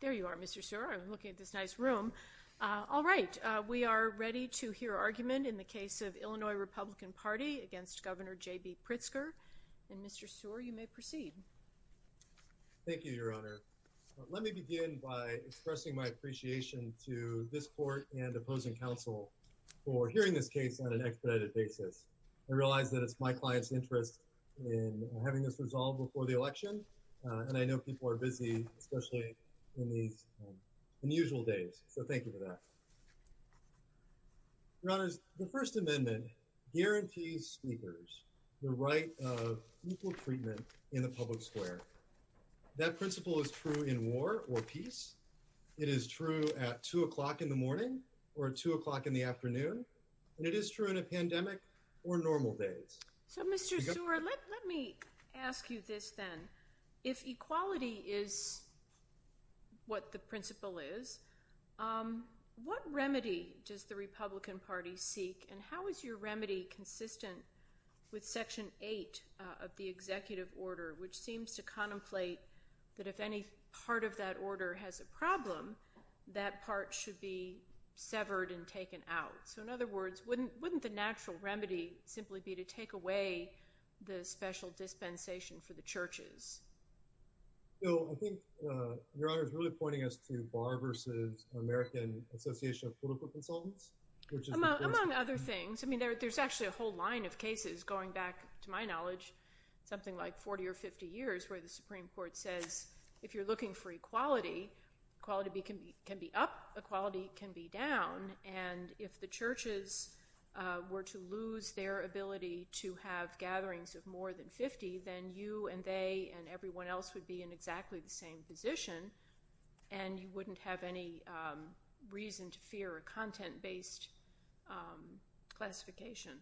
There you are, Mr. Sear. I'm looking at this nice room. All right, we are ready to hear argument in the case of Illinois Republican Party against Governor J. B. Pritzker. And Mr. Sear, you may proceed. Thank you, Your Honor. Let me begin by expressing my appreciation to this court and opposing counsel for hearing this case on an expedited basis. I realize that it's my client's interest in having this resolved before the election. And I know people are busy, especially in these unusual days. So thank you for that. Your Honor, the First Amendment guarantees speakers the right of equal treatment in the public square. That principle is true in war or peace. It is true at two o'clock in the morning or two o'clock in the afternoon. And it is true in a So, Mr. Sear, let me ask you this then. If equality is what the principle is, what remedy does the Republican Party seek? And how is your remedy consistent with Section 8 of the executive order, which seems to contemplate that if any part of that order has a problem, that part should be severed and taken out? So in other words, wouldn't the natural remedy simply be to take away the special dispensation for the churches? No, I think Your Honor is really pointing us to Barr v. American Association of Political Consultants, which is— Among other things. I mean, there's actually a whole line of cases, going back to my knowledge, something like 40 or 50 years, where the Supreme Court says, if you're looking for equality, equality can be up, equality can be down. And if the churches were to lose their ability to have gatherings of more than 50, then you and they and everyone else would be in exactly the same position. And you wouldn't have any reason to fear a content-based classification.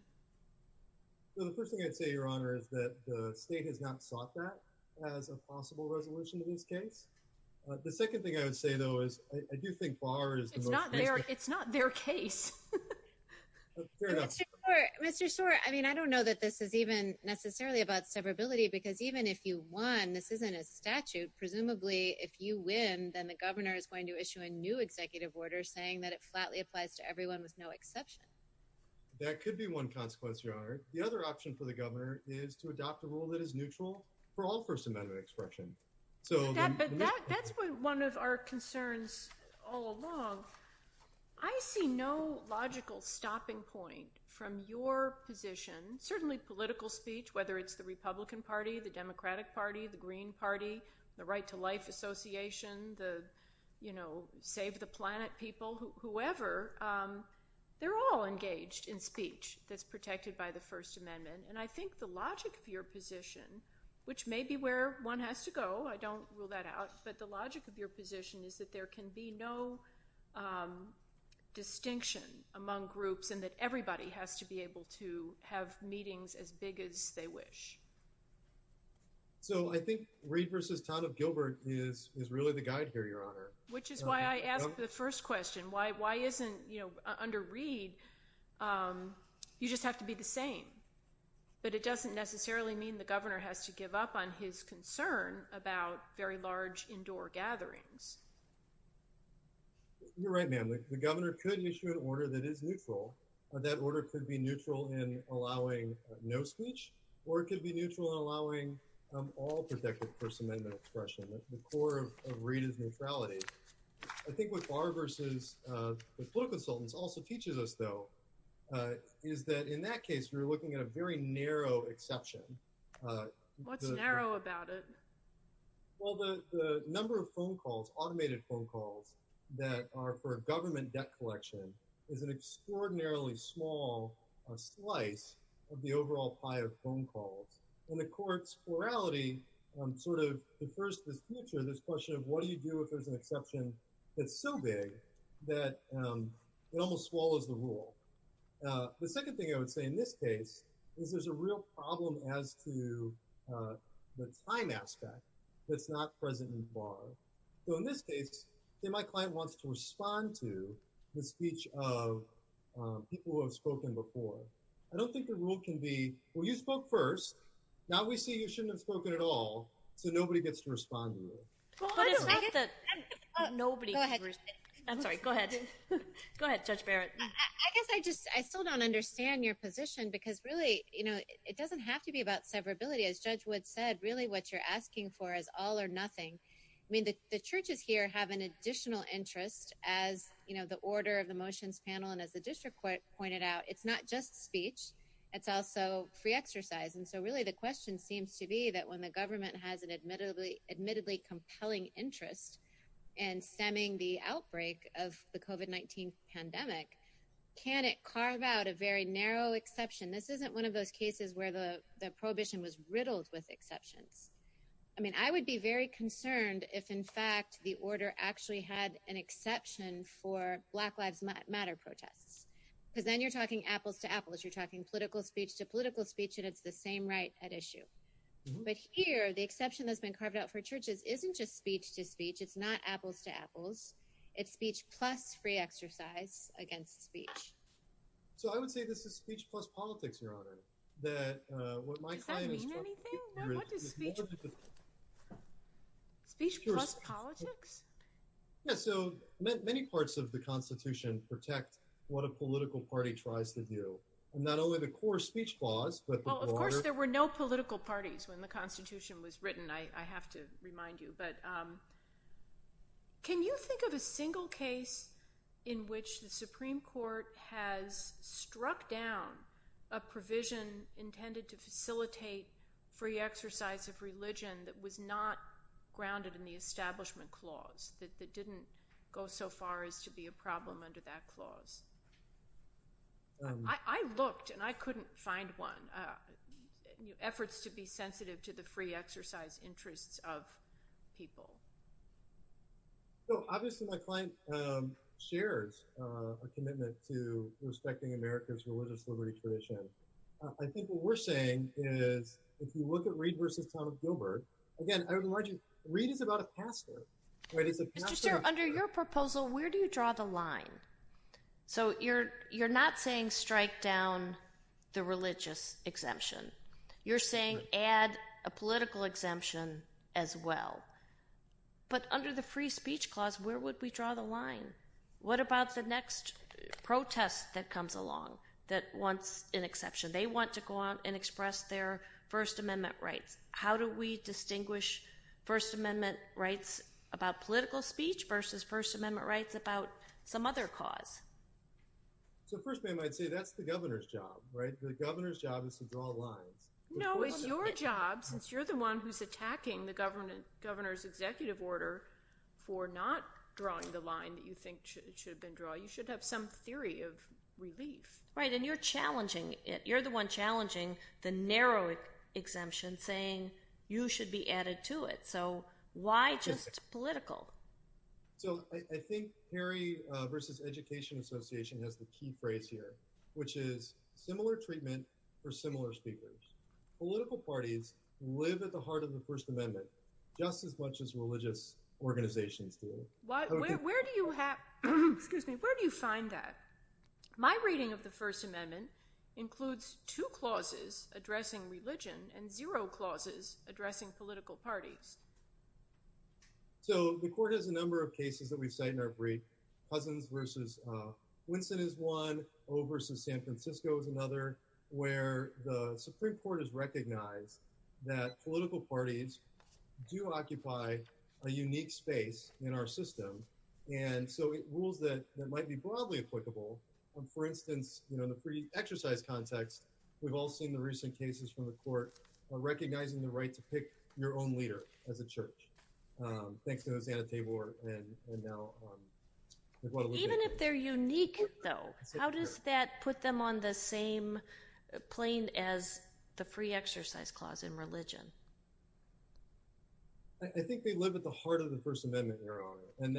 Well, the first thing I'd say, Your Honor, is that the state has not sought that as a possible resolution to this case. The second thing I would say, though, I do think Barr is the most— It's not their case. Fair enough. Mr. Schor, I mean, I don't know that this is even necessarily about severability, because even if you won, this isn't a statute. Presumably, if you win, then the governor is going to issue a new executive order saying that it flatly applies to everyone with no exception. That could be one consequence, Your Honor. The other option for the governor is to adopt a rule that is neutral for all First Amendment expression. But that's been one of our concerns all along. I see no logical stopping point from your position, certainly political speech, whether it's the Republican Party, the Democratic Party, the Green Party, the Right to Life Association, the Save the Planet people, whoever, they're all engaged in speech that's protected by First Amendment. And I think the logic of your position, which may be where one has to go, I don't rule that out, but the logic of your position is that there can be no distinction among groups and that everybody has to be able to have meetings as big as they wish. So I think Reid v. Todd of Gilbert is really the guide here, Your Honor. Which is why I asked the first question, why isn't under Reid, you just have to be the same. But it doesn't necessarily mean the governor has to give up on his concern about very large indoor gatherings. You're right, ma'am. The governor could issue an order that is neutral. That order could be neutral in allowing no speech or it could be neutral in allowing all protected First Amendment expression. The core of Reid is neutrality. I think what Barr v. the political consultants also teaches us, though, is that in that case, we're looking at a very narrow exception. What's narrow about it? Well, the number of phone calls, automated phone calls that are for a government debt collection is an extraordinarily small slice of the overall pie of phone calls. And the core plurality sort of defers to this future, this question of what do you do if there's an exception that's so big that it almost swallows the rule. The second thing I would say in this case is there's a real problem as to the time aspect that's not present in Barr. So in this case, my client wants to respond to the speech of people who have spoken before. I don't think the rule can be, well, you spoke first. Now we see you shouldn't have spoken at all. So nobody gets to respond. I'm sorry. Go ahead. Go ahead, Judge Barrett. I guess I just, I still don't understand your position because really, you know, it doesn't have to be about severability. As Judge Wood said, really what you're asking for is all or nothing. I mean, the churches here have an additional interest as, you know, the order of the motions panel. And as the district court pointed out, it's not just speech. It's also free exercise. And so really the question seems to be that when the government has an admittedly compelling interest in stemming the outbreak of the COVID-19 pandemic, can it carve out a very narrow exception? This isn't one of those cases where the prohibition was riddled with exceptions. I mean, I would be very concerned if in fact, the order actually had an exception for Black Lives Matter protests. Because then you're talking apples to apples. You're talking political speech to political speech, and it's the same right at issue. But here, the exception that's been carved out for churches isn't just speech to speech. It's not apples to apples. It's speech plus free exercise against speech. So I would say this is speech plus politics, Your Honor, that what my clients- Does that mean anything? No, what is speech? Speech plus politics? Yeah, so many parts of the Constitution protect what a political party tries to do. Not only the core speech clause, but the broader- Well, of course, there were no political parties when the Constitution was written, I have to remind you. But can you think of a single case in which the Supreme Court has struck down a provision intended to facilitate free exercise of religion that was not in the Establishment Clause, that didn't go so far as to be a problem under that clause? I looked, and I couldn't find one. Efforts to be sensitive to the free exercise interests of people. Well, obviously, my client shares a commitment to respecting America's religious liberty tradition. I think what we're saying is, if you look at Reid v. Town of Gilbert, again, I would remind you, Reid is about a pastor. Mr. Chair, under your proposal, where do you draw the line? So you're not saying strike down the religious exemption. You're saying add a political exemption as well. But under the free speech clause, where would we draw the line? What about the next protest that comes along that wants an First Amendment right? How do we distinguish First Amendment rights about political speech versus First Amendment rights about some other cause? So first, ma'am, I'd say that's the governor's job, right? The governor's job is to draw lines. No, it's your job, since you're the one who's attacking the governor's executive order for not drawing the line that you think should have been drawn. You should have some theory of the narrow exemption saying you should be added to it. So why just political? So I think Perry v. Education Association has the key phrase here, which is similar treatment for similar speakers. Political parties live at the heart of the First Amendment, just as much as religious organizations do. Where do you find that? My reading of the First Amendment is that it's a way to distinguish between a single clause addressing religion and zero clauses addressing political parties. So the court has a number of cases that we cite in our brief. Cousins v. Winston is one, O v. San Francisco is another, where the Supreme Court has recognized that political parties do occupy a unique space in our system. And so it rules that might be broadly applicable. For instance, in the free exercise context, we've all seen the recent cases from the court recognizing the right to pick your own leader as a church, thanks to Hosanna Tabor. Even if they're unique, though, how does that put them on the same plane as the free exercise clause in religion? I think they live at the heart of the First Amendment. And so I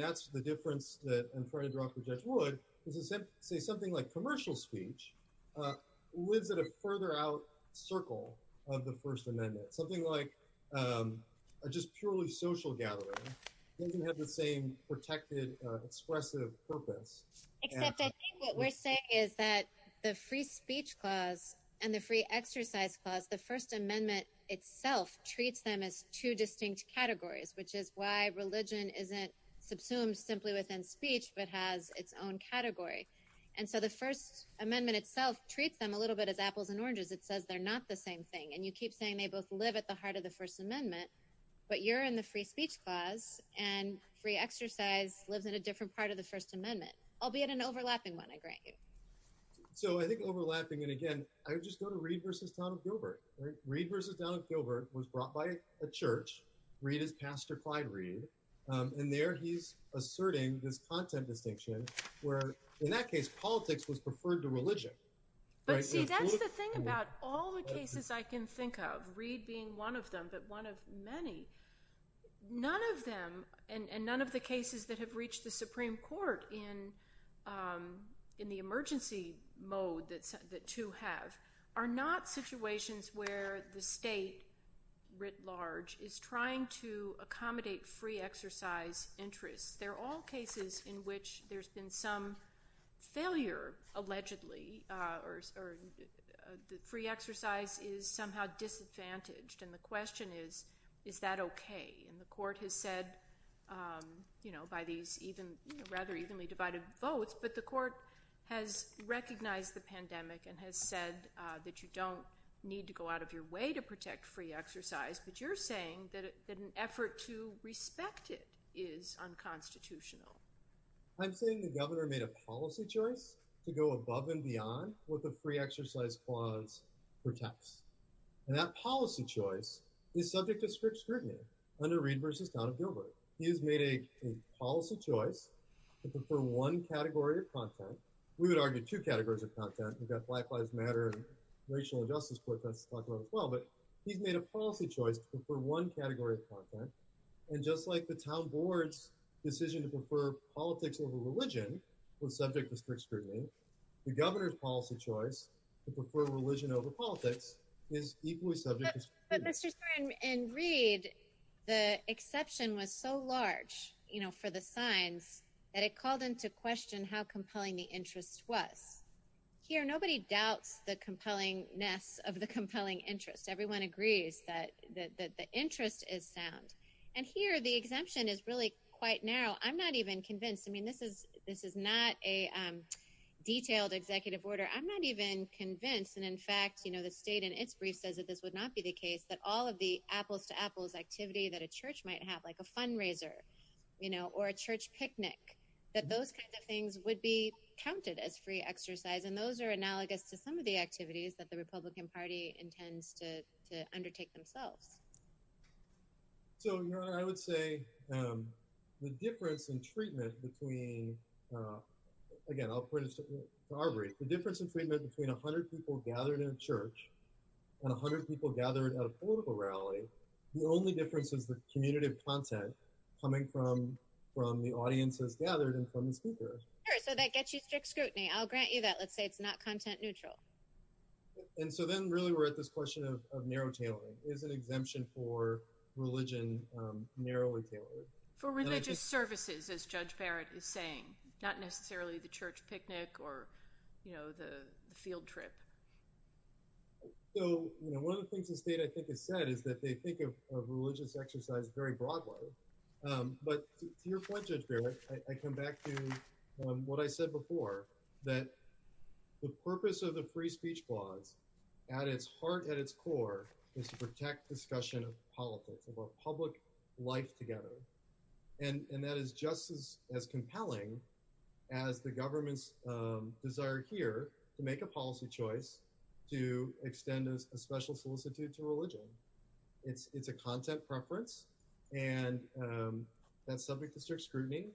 think what we're saying is that the free speech clause and the free exercise clause, the First Amendment itself treats them as two distinct categories, which is why religion isn't subsumed simply within speech but has its own category. And so the First Amendment itself treats them a little bit as apples and oranges. It says they're not the same thing. And you keep saying they both live at the heart of the First Amendment, but you're in the free speech clause and free exercise lives in a different part of the First Amendment, albeit an overlapping one, I grant you. So I think overlapping, and again, I would just go to Reed v. Donald Gilbert. Reed v. Donald Gilbert was brought by a church. Reed is Pastor Clyde Reed. And there he's asserting this content distinction where, in that case, politics was preferred to religion. But see, that's the thing about all the cases I can think of, Reed being one of them, but one of many. None of them, and none of the cases that have reached the Supreme Court in the emergency mode that two have, are not situations where the state, writ large, is trying to accommodate free exercise interests. They're all cases in which there's been some failure, allegedly, or the free exercise is somehow disadvantaged. And the question is, is that okay? And the Court has said that, you know, by these rather evenly divided votes, but the Court has recognized the pandemic and has said that you don't need to go out of your way to protect free exercise, but you're saying that an effort to respect it is unconstitutional. I'm saying the Governor made a policy choice to go above and beyond what the free exercise clause protects. And that policy choice is subject to strict scrutiny under Reed versus Town of Gilbert. He has made a policy choice to prefer one category of content. We would argue two categories of content. We've got Black Lives Matter and racial injustice protests to talk about as well, but he's made a policy choice to prefer one category of content. And just like the Town Board's decision to prefer politics over religion was subject to strict scrutiny, the Governor's policy choice to prefer religion over politics is equally subject to scrutiny. But Mr. Stern, in Reed, the exception was so large, you know, for the signs that it called into question how compelling the interest was. Here, nobody doubts the compellingness of the compelling interest. Everyone agrees that the interest is sound. And here, the exemption is really quite narrow. I'm not even convinced. I mean, this is not a detailed executive order. I'm not even convinced. And in fact, you know, the state in its brief says that this would not be the case, that all of the apples-to-apples activity that a church might have, like a fundraiser, you know, or a church picnic, that those kinds of things would be counted as free exercise. And those are analogous to some of the activities that the Republican Party intends to undertake themselves. So, Your Honor, I would say the difference in treatment between, again, I'll put it to you. The difference in treatment between 100 people gathered in a church and 100 people gathered at a political rally, the only difference is the commutative content coming from the audiences gathered and from the speakers. Sure, so that gets you strict scrutiny. I'll grant you that. Let's say it's not content neutral. And so then, really, we're at this question of narrow tailoring. Is an exemption for religion narrowly tailored? For religious services, as Judge Barrett is saying, not necessarily the church picnic or you know, the field trip. So, you know, one of the things the state, I think, has said is that they think of religious exercise very broadly. But to your point, Judge Barrett, I come back to what I said before, that the purpose of the Free Speech Clause, at its heart, at its core, is to protect discussion of politics, of our public life together. And that is just as compelling as the government's desire here to make a policy choice to extend a special solicitude to religion. It's a content preference and that's subject to strict scrutiny.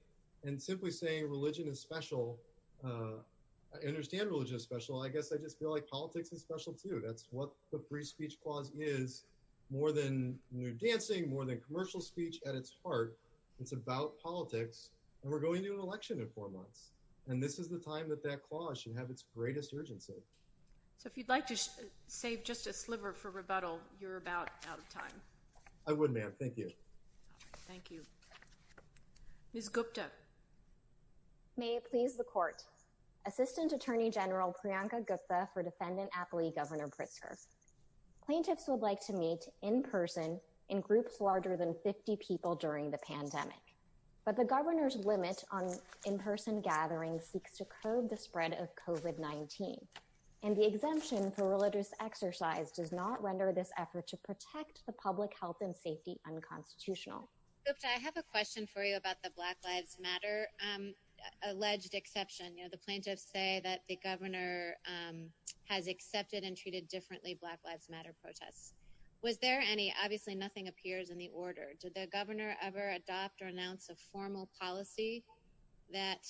And simply saying religion is special, I understand religion is special. I guess I just feel like politics is special too. That's what the Free Speech Clause is, more than nude dancing, more than commercial speech. At its heart, it's about politics. And we're going to an election in four months. And this is the time that that clause should have its greatest urgency. So, if you'd like to save just a sliver for rebuttal, you're about out of time. I would, ma'am. Thank you. Thank you. Ms. Gupta. May it please the Court. Assistant Attorney General Priyanka Gupta for Defendant Appellee Governor Pritzker. Plaintiffs would like to meet in person in groups larger than 50 people during the pandemic. But the governor's limit on in-person gatherings seeks to curb the spread of COVID-19. And the exemption for religious exercise does not render this effort to protect the public health and safety unconstitutional. Gupta, I have a question for you about the Black Lives Matter alleged exception. The plaintiffs say that the governor has accepted and treated differently Black Lives Matter protests. Was there any, obviously nothing appears in the order. Did the governor ever adopt or announce a formal policy that,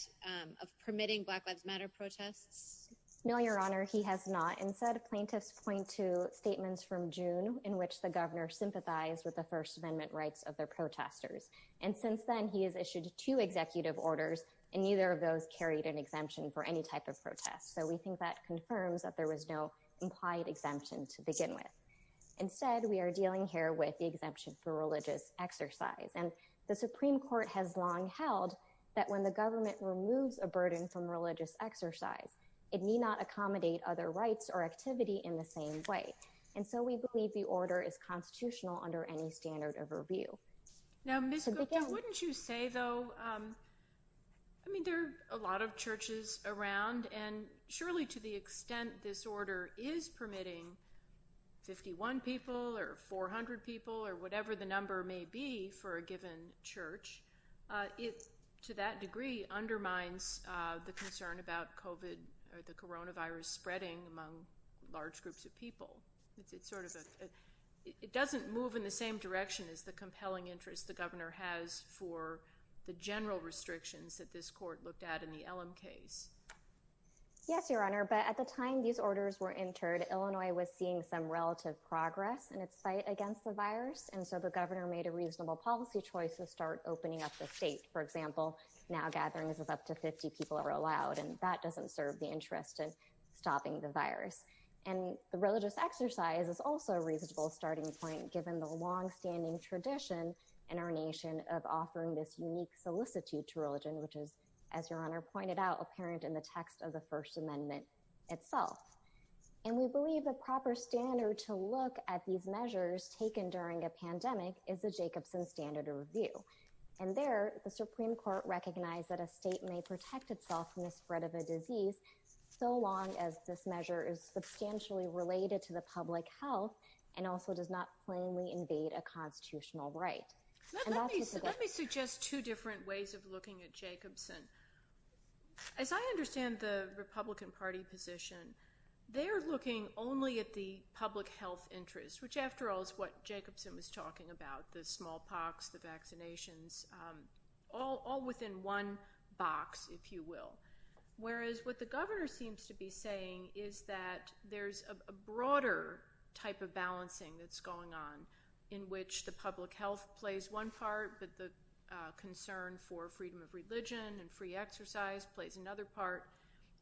of permitting Black Lives Matter protests? No, Your Honor, he has not. Instead, plaintiffs point to statements from June in which the governor sympathized with the First Amendment rights of their protesters. And since then, he has issued two executive orders, and neither of those carried an exemption for any type of protest. So, we think that confirms that there was no implied exemption to begin with. Instead, we are dealing here with the exemption for religious exercise. And the Supreme Court has long held that when the government removes a burden from religious exercise, it need not accommodate other rights or activity in the same way. And so, we believe the order is constitutional under any standard of review. Now, Ms. Gupta, wouldn't you say, though, I mean, there are a lot of churches around, and surely to the extent this order is permitting 51 people or 400 people or whatever the number may be for a given church, it, to that degree, undermines the concern about COVID or the coronavirus spreading among large groups of people. It's sort of a, it doesn't move in the same direction as the compelling interest the governor has for the general restrictions that this court looked at in the LM case. Yes, Your Honor, but at the time these orders were entered, Illinois was seeing some relative progress in its fight against the virus. And so, the governor made a reasonable policy choice to start opening up the state. For example, now gatherings of up to 50 people are allowed, and that doesn't serve the interest in stopping the virus. And the religious exercise is also a reasonable starting point, given the longstanding tradition in our nation of offering this unique solicitude to religion, which is, as Your Honor pointed out, apparent in the text of the First Amendment itself. And we believe the proper standard to look at these measures taken during a pandemic is the Jacobson standard of review. And there, the Supreme Court recognized that a state may protect itself from the spread of a disease so long as this measure is substantially related to the public health and also does not plainly invade a constitutional right. Let me suggest two different ways of looking at Jacobson. As I understand the Republican Party position, they're looking only at the public health interest, which after all is what Jacobson was talking about, the smallpox, the vaccinations, all within one box, if you will. Whereas what the governor seems to be saying is that there's a broader type of balancing that's going on in which the public health plays one part, but the concern for freedom of religion and free exercise plays another part.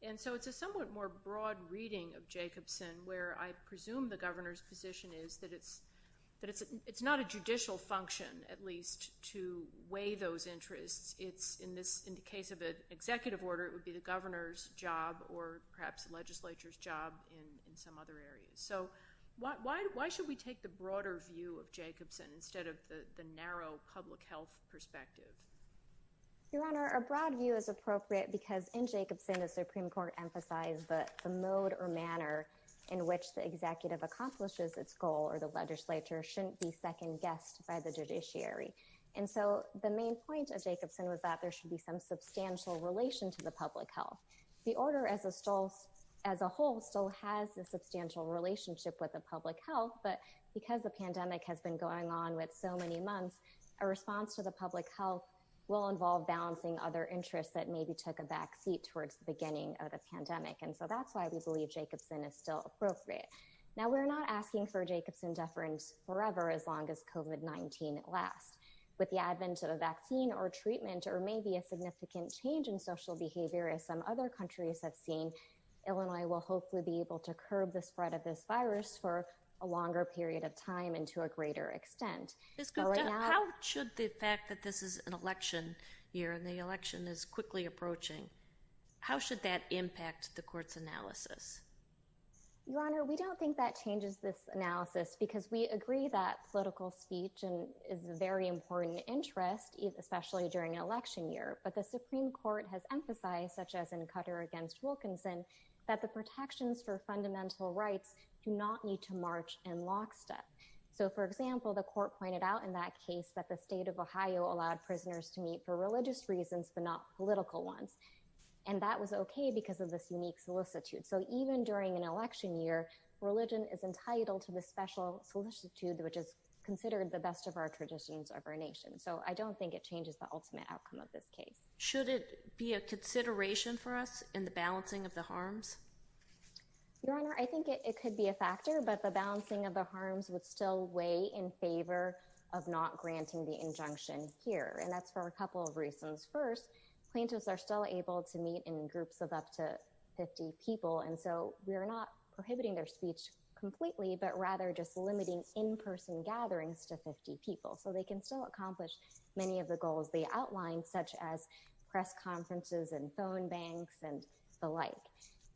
And so it's a somewhat more broad reading of Jacobson, where I presume the governor's position is that it's not a judicial function, at least, to weigh those interests. It's, in the case of an executive order, it would be the governor's job or perhaps legislature's job in some other areas. So why should we take the broader view of Jacobson instead of the narrow public health perspective? Your Honor, a broad view is appropriate because in Jacobson, the Supreme Court emphasized that the mode or manner in which the executive accomplishes its goal or the legislature shouldn't be second-guessed by the judiciary. And so the main point of Jacobson was that there should be some substantial relation to the public health. The order as a whole still has a substantial relationship with the public health, but because the pandemic has been going on with so many months, a response to the public health will involve balancing other interests that maybe took a back seat towards the beginning of the pandemic. And so that's why we believe Jacobson is still appropriate. Now, we're not asking for Jacobson deference forever as long as COVID-19 lasts. With the advent of a vaccine or treatment or maybe a significant change in social behavior as some other countries have seen, Illinois will hopefully be able to curb the spread of this virus for a longer period of time and to a greater extent. Ms. Gupta, how should the fact that this is an election year and the election is quickly approaching, how should that impact the court's analysis? Your Honor, we don't think that changes this analysis because we agree that political speech is a very important interest, especially during an election year. But the Supreme Court has emphasized, such as in Cutter against Wilkinson, that the protections for fundamental rights do not need to march in lockstep. So for example, the court pointed out in that case that the state of Ohio allowed prisoners to meet for religious reasons but not political ones. And that was okay because of this unique solicitude. So even during an election year, religion is entitled to the special solicitude which is considered the best of our traditions of our nation. So I don't think it changes the ultimate outcome of this case. Should it be a consideration for us in the balancing of the harms? Your Honor, I think it could be a factor, but the balancing of the harms would still weigh in favor of not granting the injunction here. And that's for a couple of reasons. First, plaintiffs are still able to meet in groups of up to 50 people. And so we're not prohibiting their speech completely, but rather just limiting in-person gatherings to 50 people. So they can still accomplish many of the goals they outlined, such as press conferences and phone banks and the like.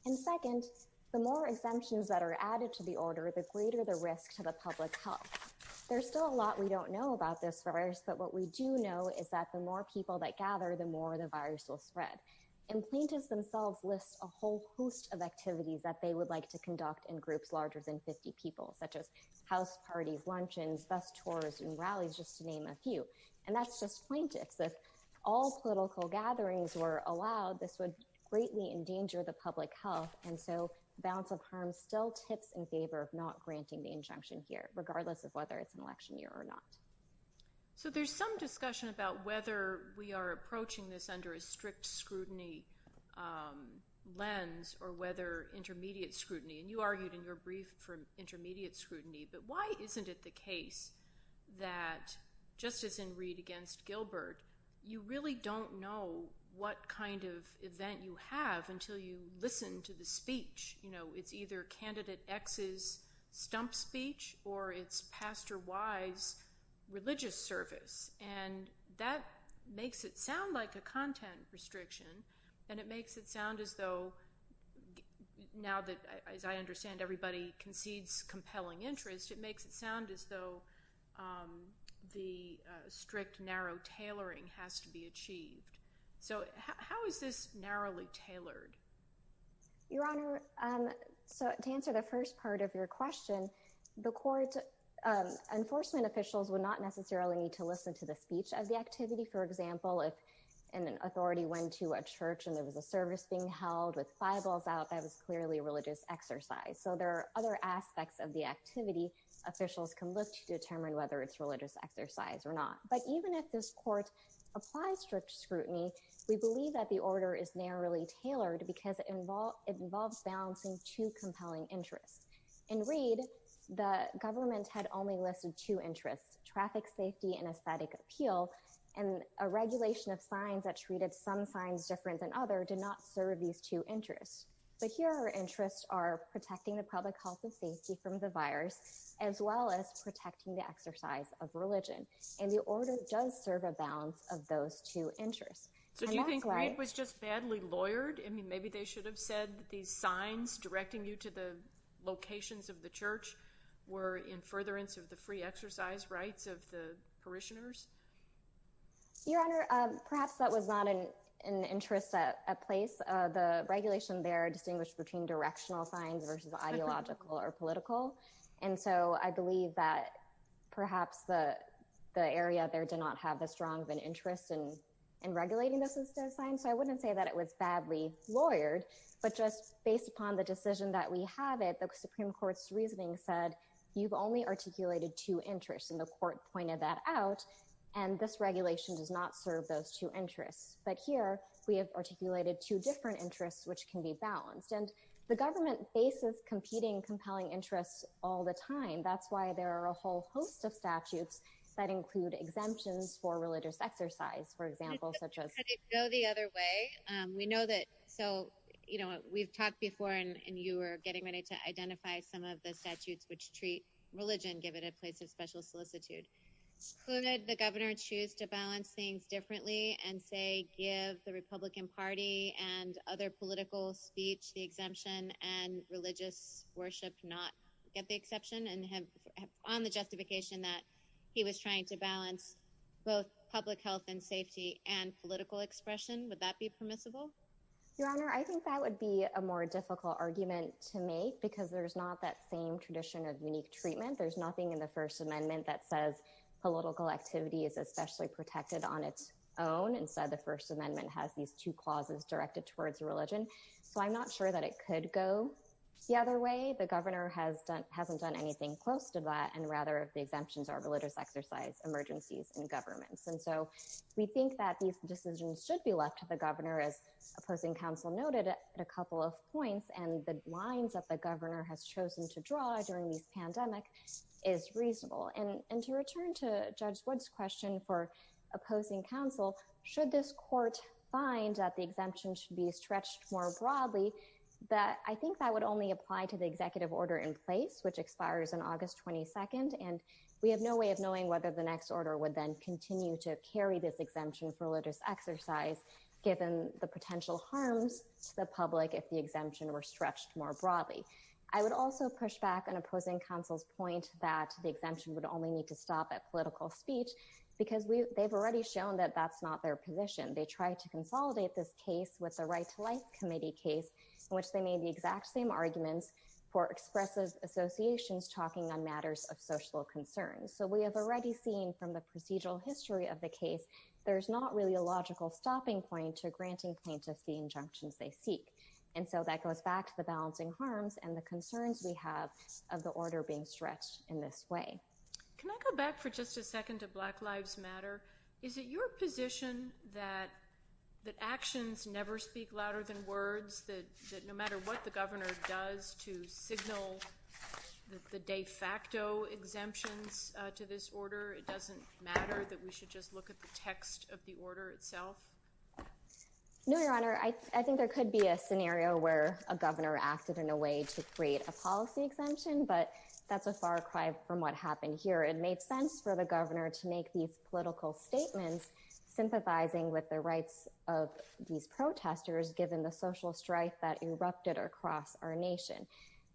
And second, the more exemptions that are added to the order, the greater the risk to the public's health. There's still a lot we don't know about this virus, but what we do know is that the more people that gather, the more the virus will spread. And plaintiffs themselves list a host of activities that they would like to conduct in groups larger than 50 people, such as house parties, luncheons, bus tours, and rallies, just to name a few. And that's just plaintiffs. If all political gatherings were allowed, this would greatly endanger the public health. And so the balance of harms still tips in favor of not granting the injunction here, regardless of whether it's an election year or not. So there's some discussion about whether we are approaching this under a strict scrutiny lens or whether intermediate scrutiny. And you argued in your brief for intermediate scrutiny, but why isn't it the case that, just as in Reed against Gilbert, you really don't know what kind of event you have until you listen to the speech. It's either candidate X's stump speech or it's pastor Y's religious service. And that makes it sound like a content restriction, and it makes it sound as though, now that, as I understand, everybody concedes compelling interest, it makes it sound as though the strict, narrow tailoring has to be achieved. So how is this narrowly tailored? Your Honor, so to answer the first part of your question, the court, enforcement officials would not necessarily need to listen to the speech of the activity. For example, if an authority went to a church and there was a service being held with Bibles out, that was clearly a religious exercise. So there are other aspects of the activity officials can look to determine whether it's religious exercise or not. But even if this court applies strict scrutiny, we believe that order is narrowly tailored because it involves balancing two compelling interests. In Reed, the government had only listed two interests, traffic safety and aesthetic appeal, and a regulation of signs that treated some signs different than others did not serve these two interests. But here, our interests are protecting the public health and safety from the virus, as well as protecting the exercise of religion. And the order does serve a balance of those two interests. That's just badly lawyered. I mean, maybe they should have said these signs directing you to the locations of the church were in furtherance of the free exercise rights of the parishioners. Your Honor, perhaps that was not an interest at place. The regulation there distinguished between directional signs versus ideological or political. And so I believe that perhaps the area there did not have as strong of an interest in regulating those signs. So I wouldn't say that it was badly lawyered, but just based upon the decision that we have it, the Supreme Court's reasoning said you've only articulated two interests. And the court pointed that out. And this regulation does not serve those two interests. But here, we have articulated two different interests which can be balanced. And the government faces competing, compelling interests all the time. That's why there are a whole host of statutes that include exemptions for religious exercise, for example, such as... Could it go the other way? We know that... So we've talked before, and you were getting ready to identify some of the statutes which treat religion, give it a place of special solicitude. Could the governor choose to balance things differently and say, give the Republican Party and other political speech the exemption and religious worship not get the exception? And on the justification that he was trying to balance both public health and safety and political expression, would that be permissible? Your Honor, I think that would be a more difficult argument to make because there's not that same tradition of unique treatment. There's nothing in the First Amendment that says political activity is especially protected on its own. Instead, the First Amendment has these two clauses directed towards religion. So I'm not sure that it could go the other way. The governor hasn't done anything close to that, and rather the exemptions are religious exercise, emergencies, and governments. And so we think that these decisions should be left to the governor, as opposing counsel noted at a couple of points, and the lines that the governor has chosen to draw during this pandemic is reasonable. And to return to Judge Wood's question for opposing counsel, should this court find that the exemption should be stretched more broadly? I think that would only apply to the executive order in place, which expires on August 22nd, and we have no way of knowing whether the next order would then continue to carry this exemption for religious exercise, given the potential harms to the public if the exemption were stretched more broadly. I would also push back on opposing counsel's point that the exemption would only need to stop at political speech, because they've already shown that that's not their position. They tried to consolidate this with the Right to Life Committee case, in which they made the exact same arguments for expressive associations talking on matters of social concern. So we have already seen from the procedural history of the case, there's not really a logical stopping point to granting plaintiffs the injunctions they seek. And so that goes back to the balancing harms and the concerns we have of the order being stretched in this way. Can I go back for just a second to Black Lives Matter? Is it your position that actions never speak louder than words, that no matter what the governor does to signal the de facto exemptions to this order, it doesn't matter, that we should just look at the text of the order itself? No, Your Honor. I think there could be a scenario where a governor acted in a way to create a policy exemption, but that's a far cry from what happened here. It made sense for the governor to make these political statements, sympathizing with the rights of these protesters, given the social strife that erupted across our nation.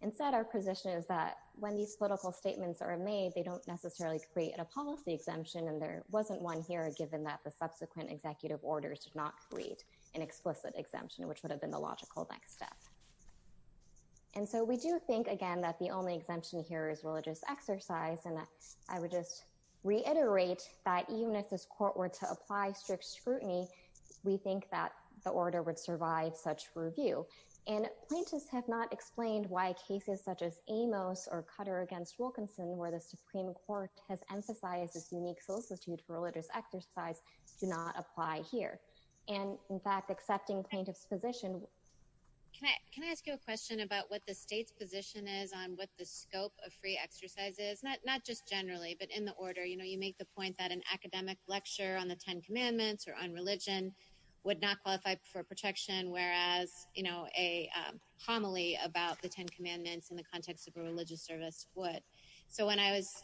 Instead, our position is that when these political statements are made, they don't necessarily create a policy exemption, and there wasn't one here, given that the subsequent executive orders did not create an explicit exemption, which would have been the logical next step. And so we do think, again, that the only exemption here is religious exercise, and I would just reiterate that even if this court were to apply strict scrutiny, we think that the order would survive such review. And plaintiffs have not explained why cases such as Amos or Cutter against Wilkinson, where the Supreme Court has emphasized its unique solicitude for religious exercise, do not apply here. And in fact, accepting plaintiffs' position... Can I ask you a question about what the state's position is on what the scope of free exercise is? Not just generally, but in the order. You know, you make the point that an academic lecture on the Ten Commandments or on religion would not qualify for protection, whereas, you know, a homily about the Ten Commandments in the context of a religious service would. So when I was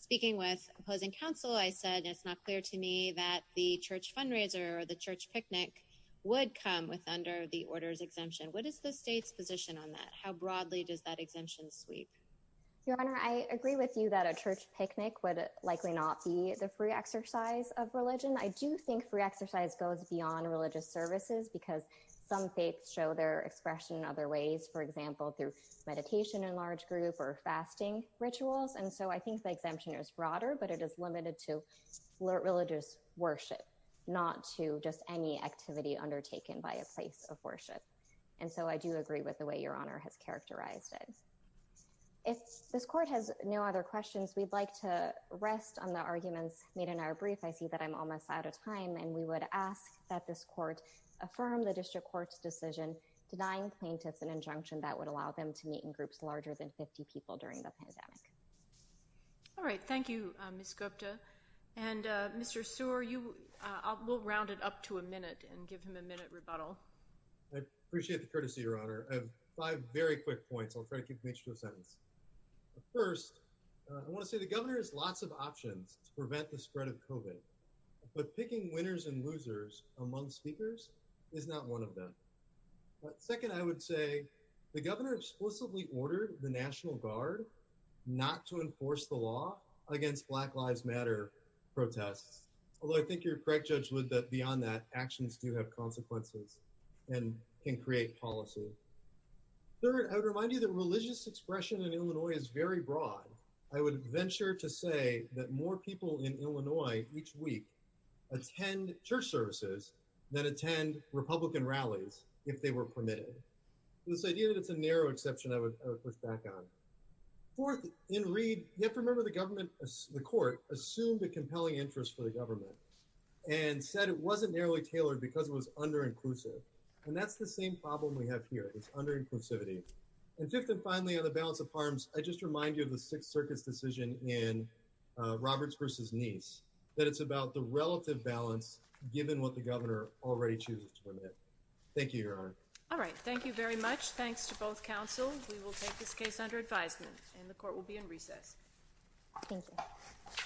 speaking with opposing counsel, I said it's not clear to me that the church fundraiser or the church picnic would come with under the order's exemption. What is the state's position on that? How broadly does that exemption sweep? Your Honor, I agree with you that a church picnic would likely not be the free exercise of religion. I do think free exercise goes beyond religious services because some faiths show their expression in other ways, for example, through meditation in large group or other ways. So I think the exemption is broader, but it is limited to religious worship, not to just any activity undertaken by a place of worship. And so I do agree with the way Your Honor has characterized it. If this Court has no other questions, we'd like to rest on the arguments made in our brief. I see that I'm almost out of time, and we would ask that this Court affirm the District Court's decision denying plaintiffs an injunction that would allow them to meet in groups larger than 50 people during the pandemic. All right. Thank you, Ms. Gupta. And Mr. Sear, we'll round it up to a minute and give him a minute rebuttal. I appreciate the courtesy, Your Honor. I have five very quick points. I'll try to keep the nature of the sentence. First, I want to say the governor has lots of options to prevent the spread of COVID, but picking winners and losers among speakers is not one of them. Second, I would say the governor explicitly ordered the National Guard not to enforce the law against Black Lives Matter protests, although I think you're correct, Judge Wood, that beyond that actions do have consequences and can create policy. Third, I would remind you that religious expression in Illinois is very broad. I would venture to say that more people in Illinois each week attend church services than attend Republican rallies if they were permitted. This idea that it's a narrow exception I would push back on. Fourth, in Reed, you have to remember the government, the Court, assumed a compelling interest for the government and said it wasn't narrowly tailored because it was under-inclusive, and that's the same problem we have here. It's under-inclusivity. And fifth and finally, on the balance of harms, I just remind you of the Sixth that it's about the relative balance given what the governor already chooses to permit. Thank you, Your Honor. All right, thank you very much. Thanks to both counsel. We will take this case under advisement and the court will be in recess. Thank you.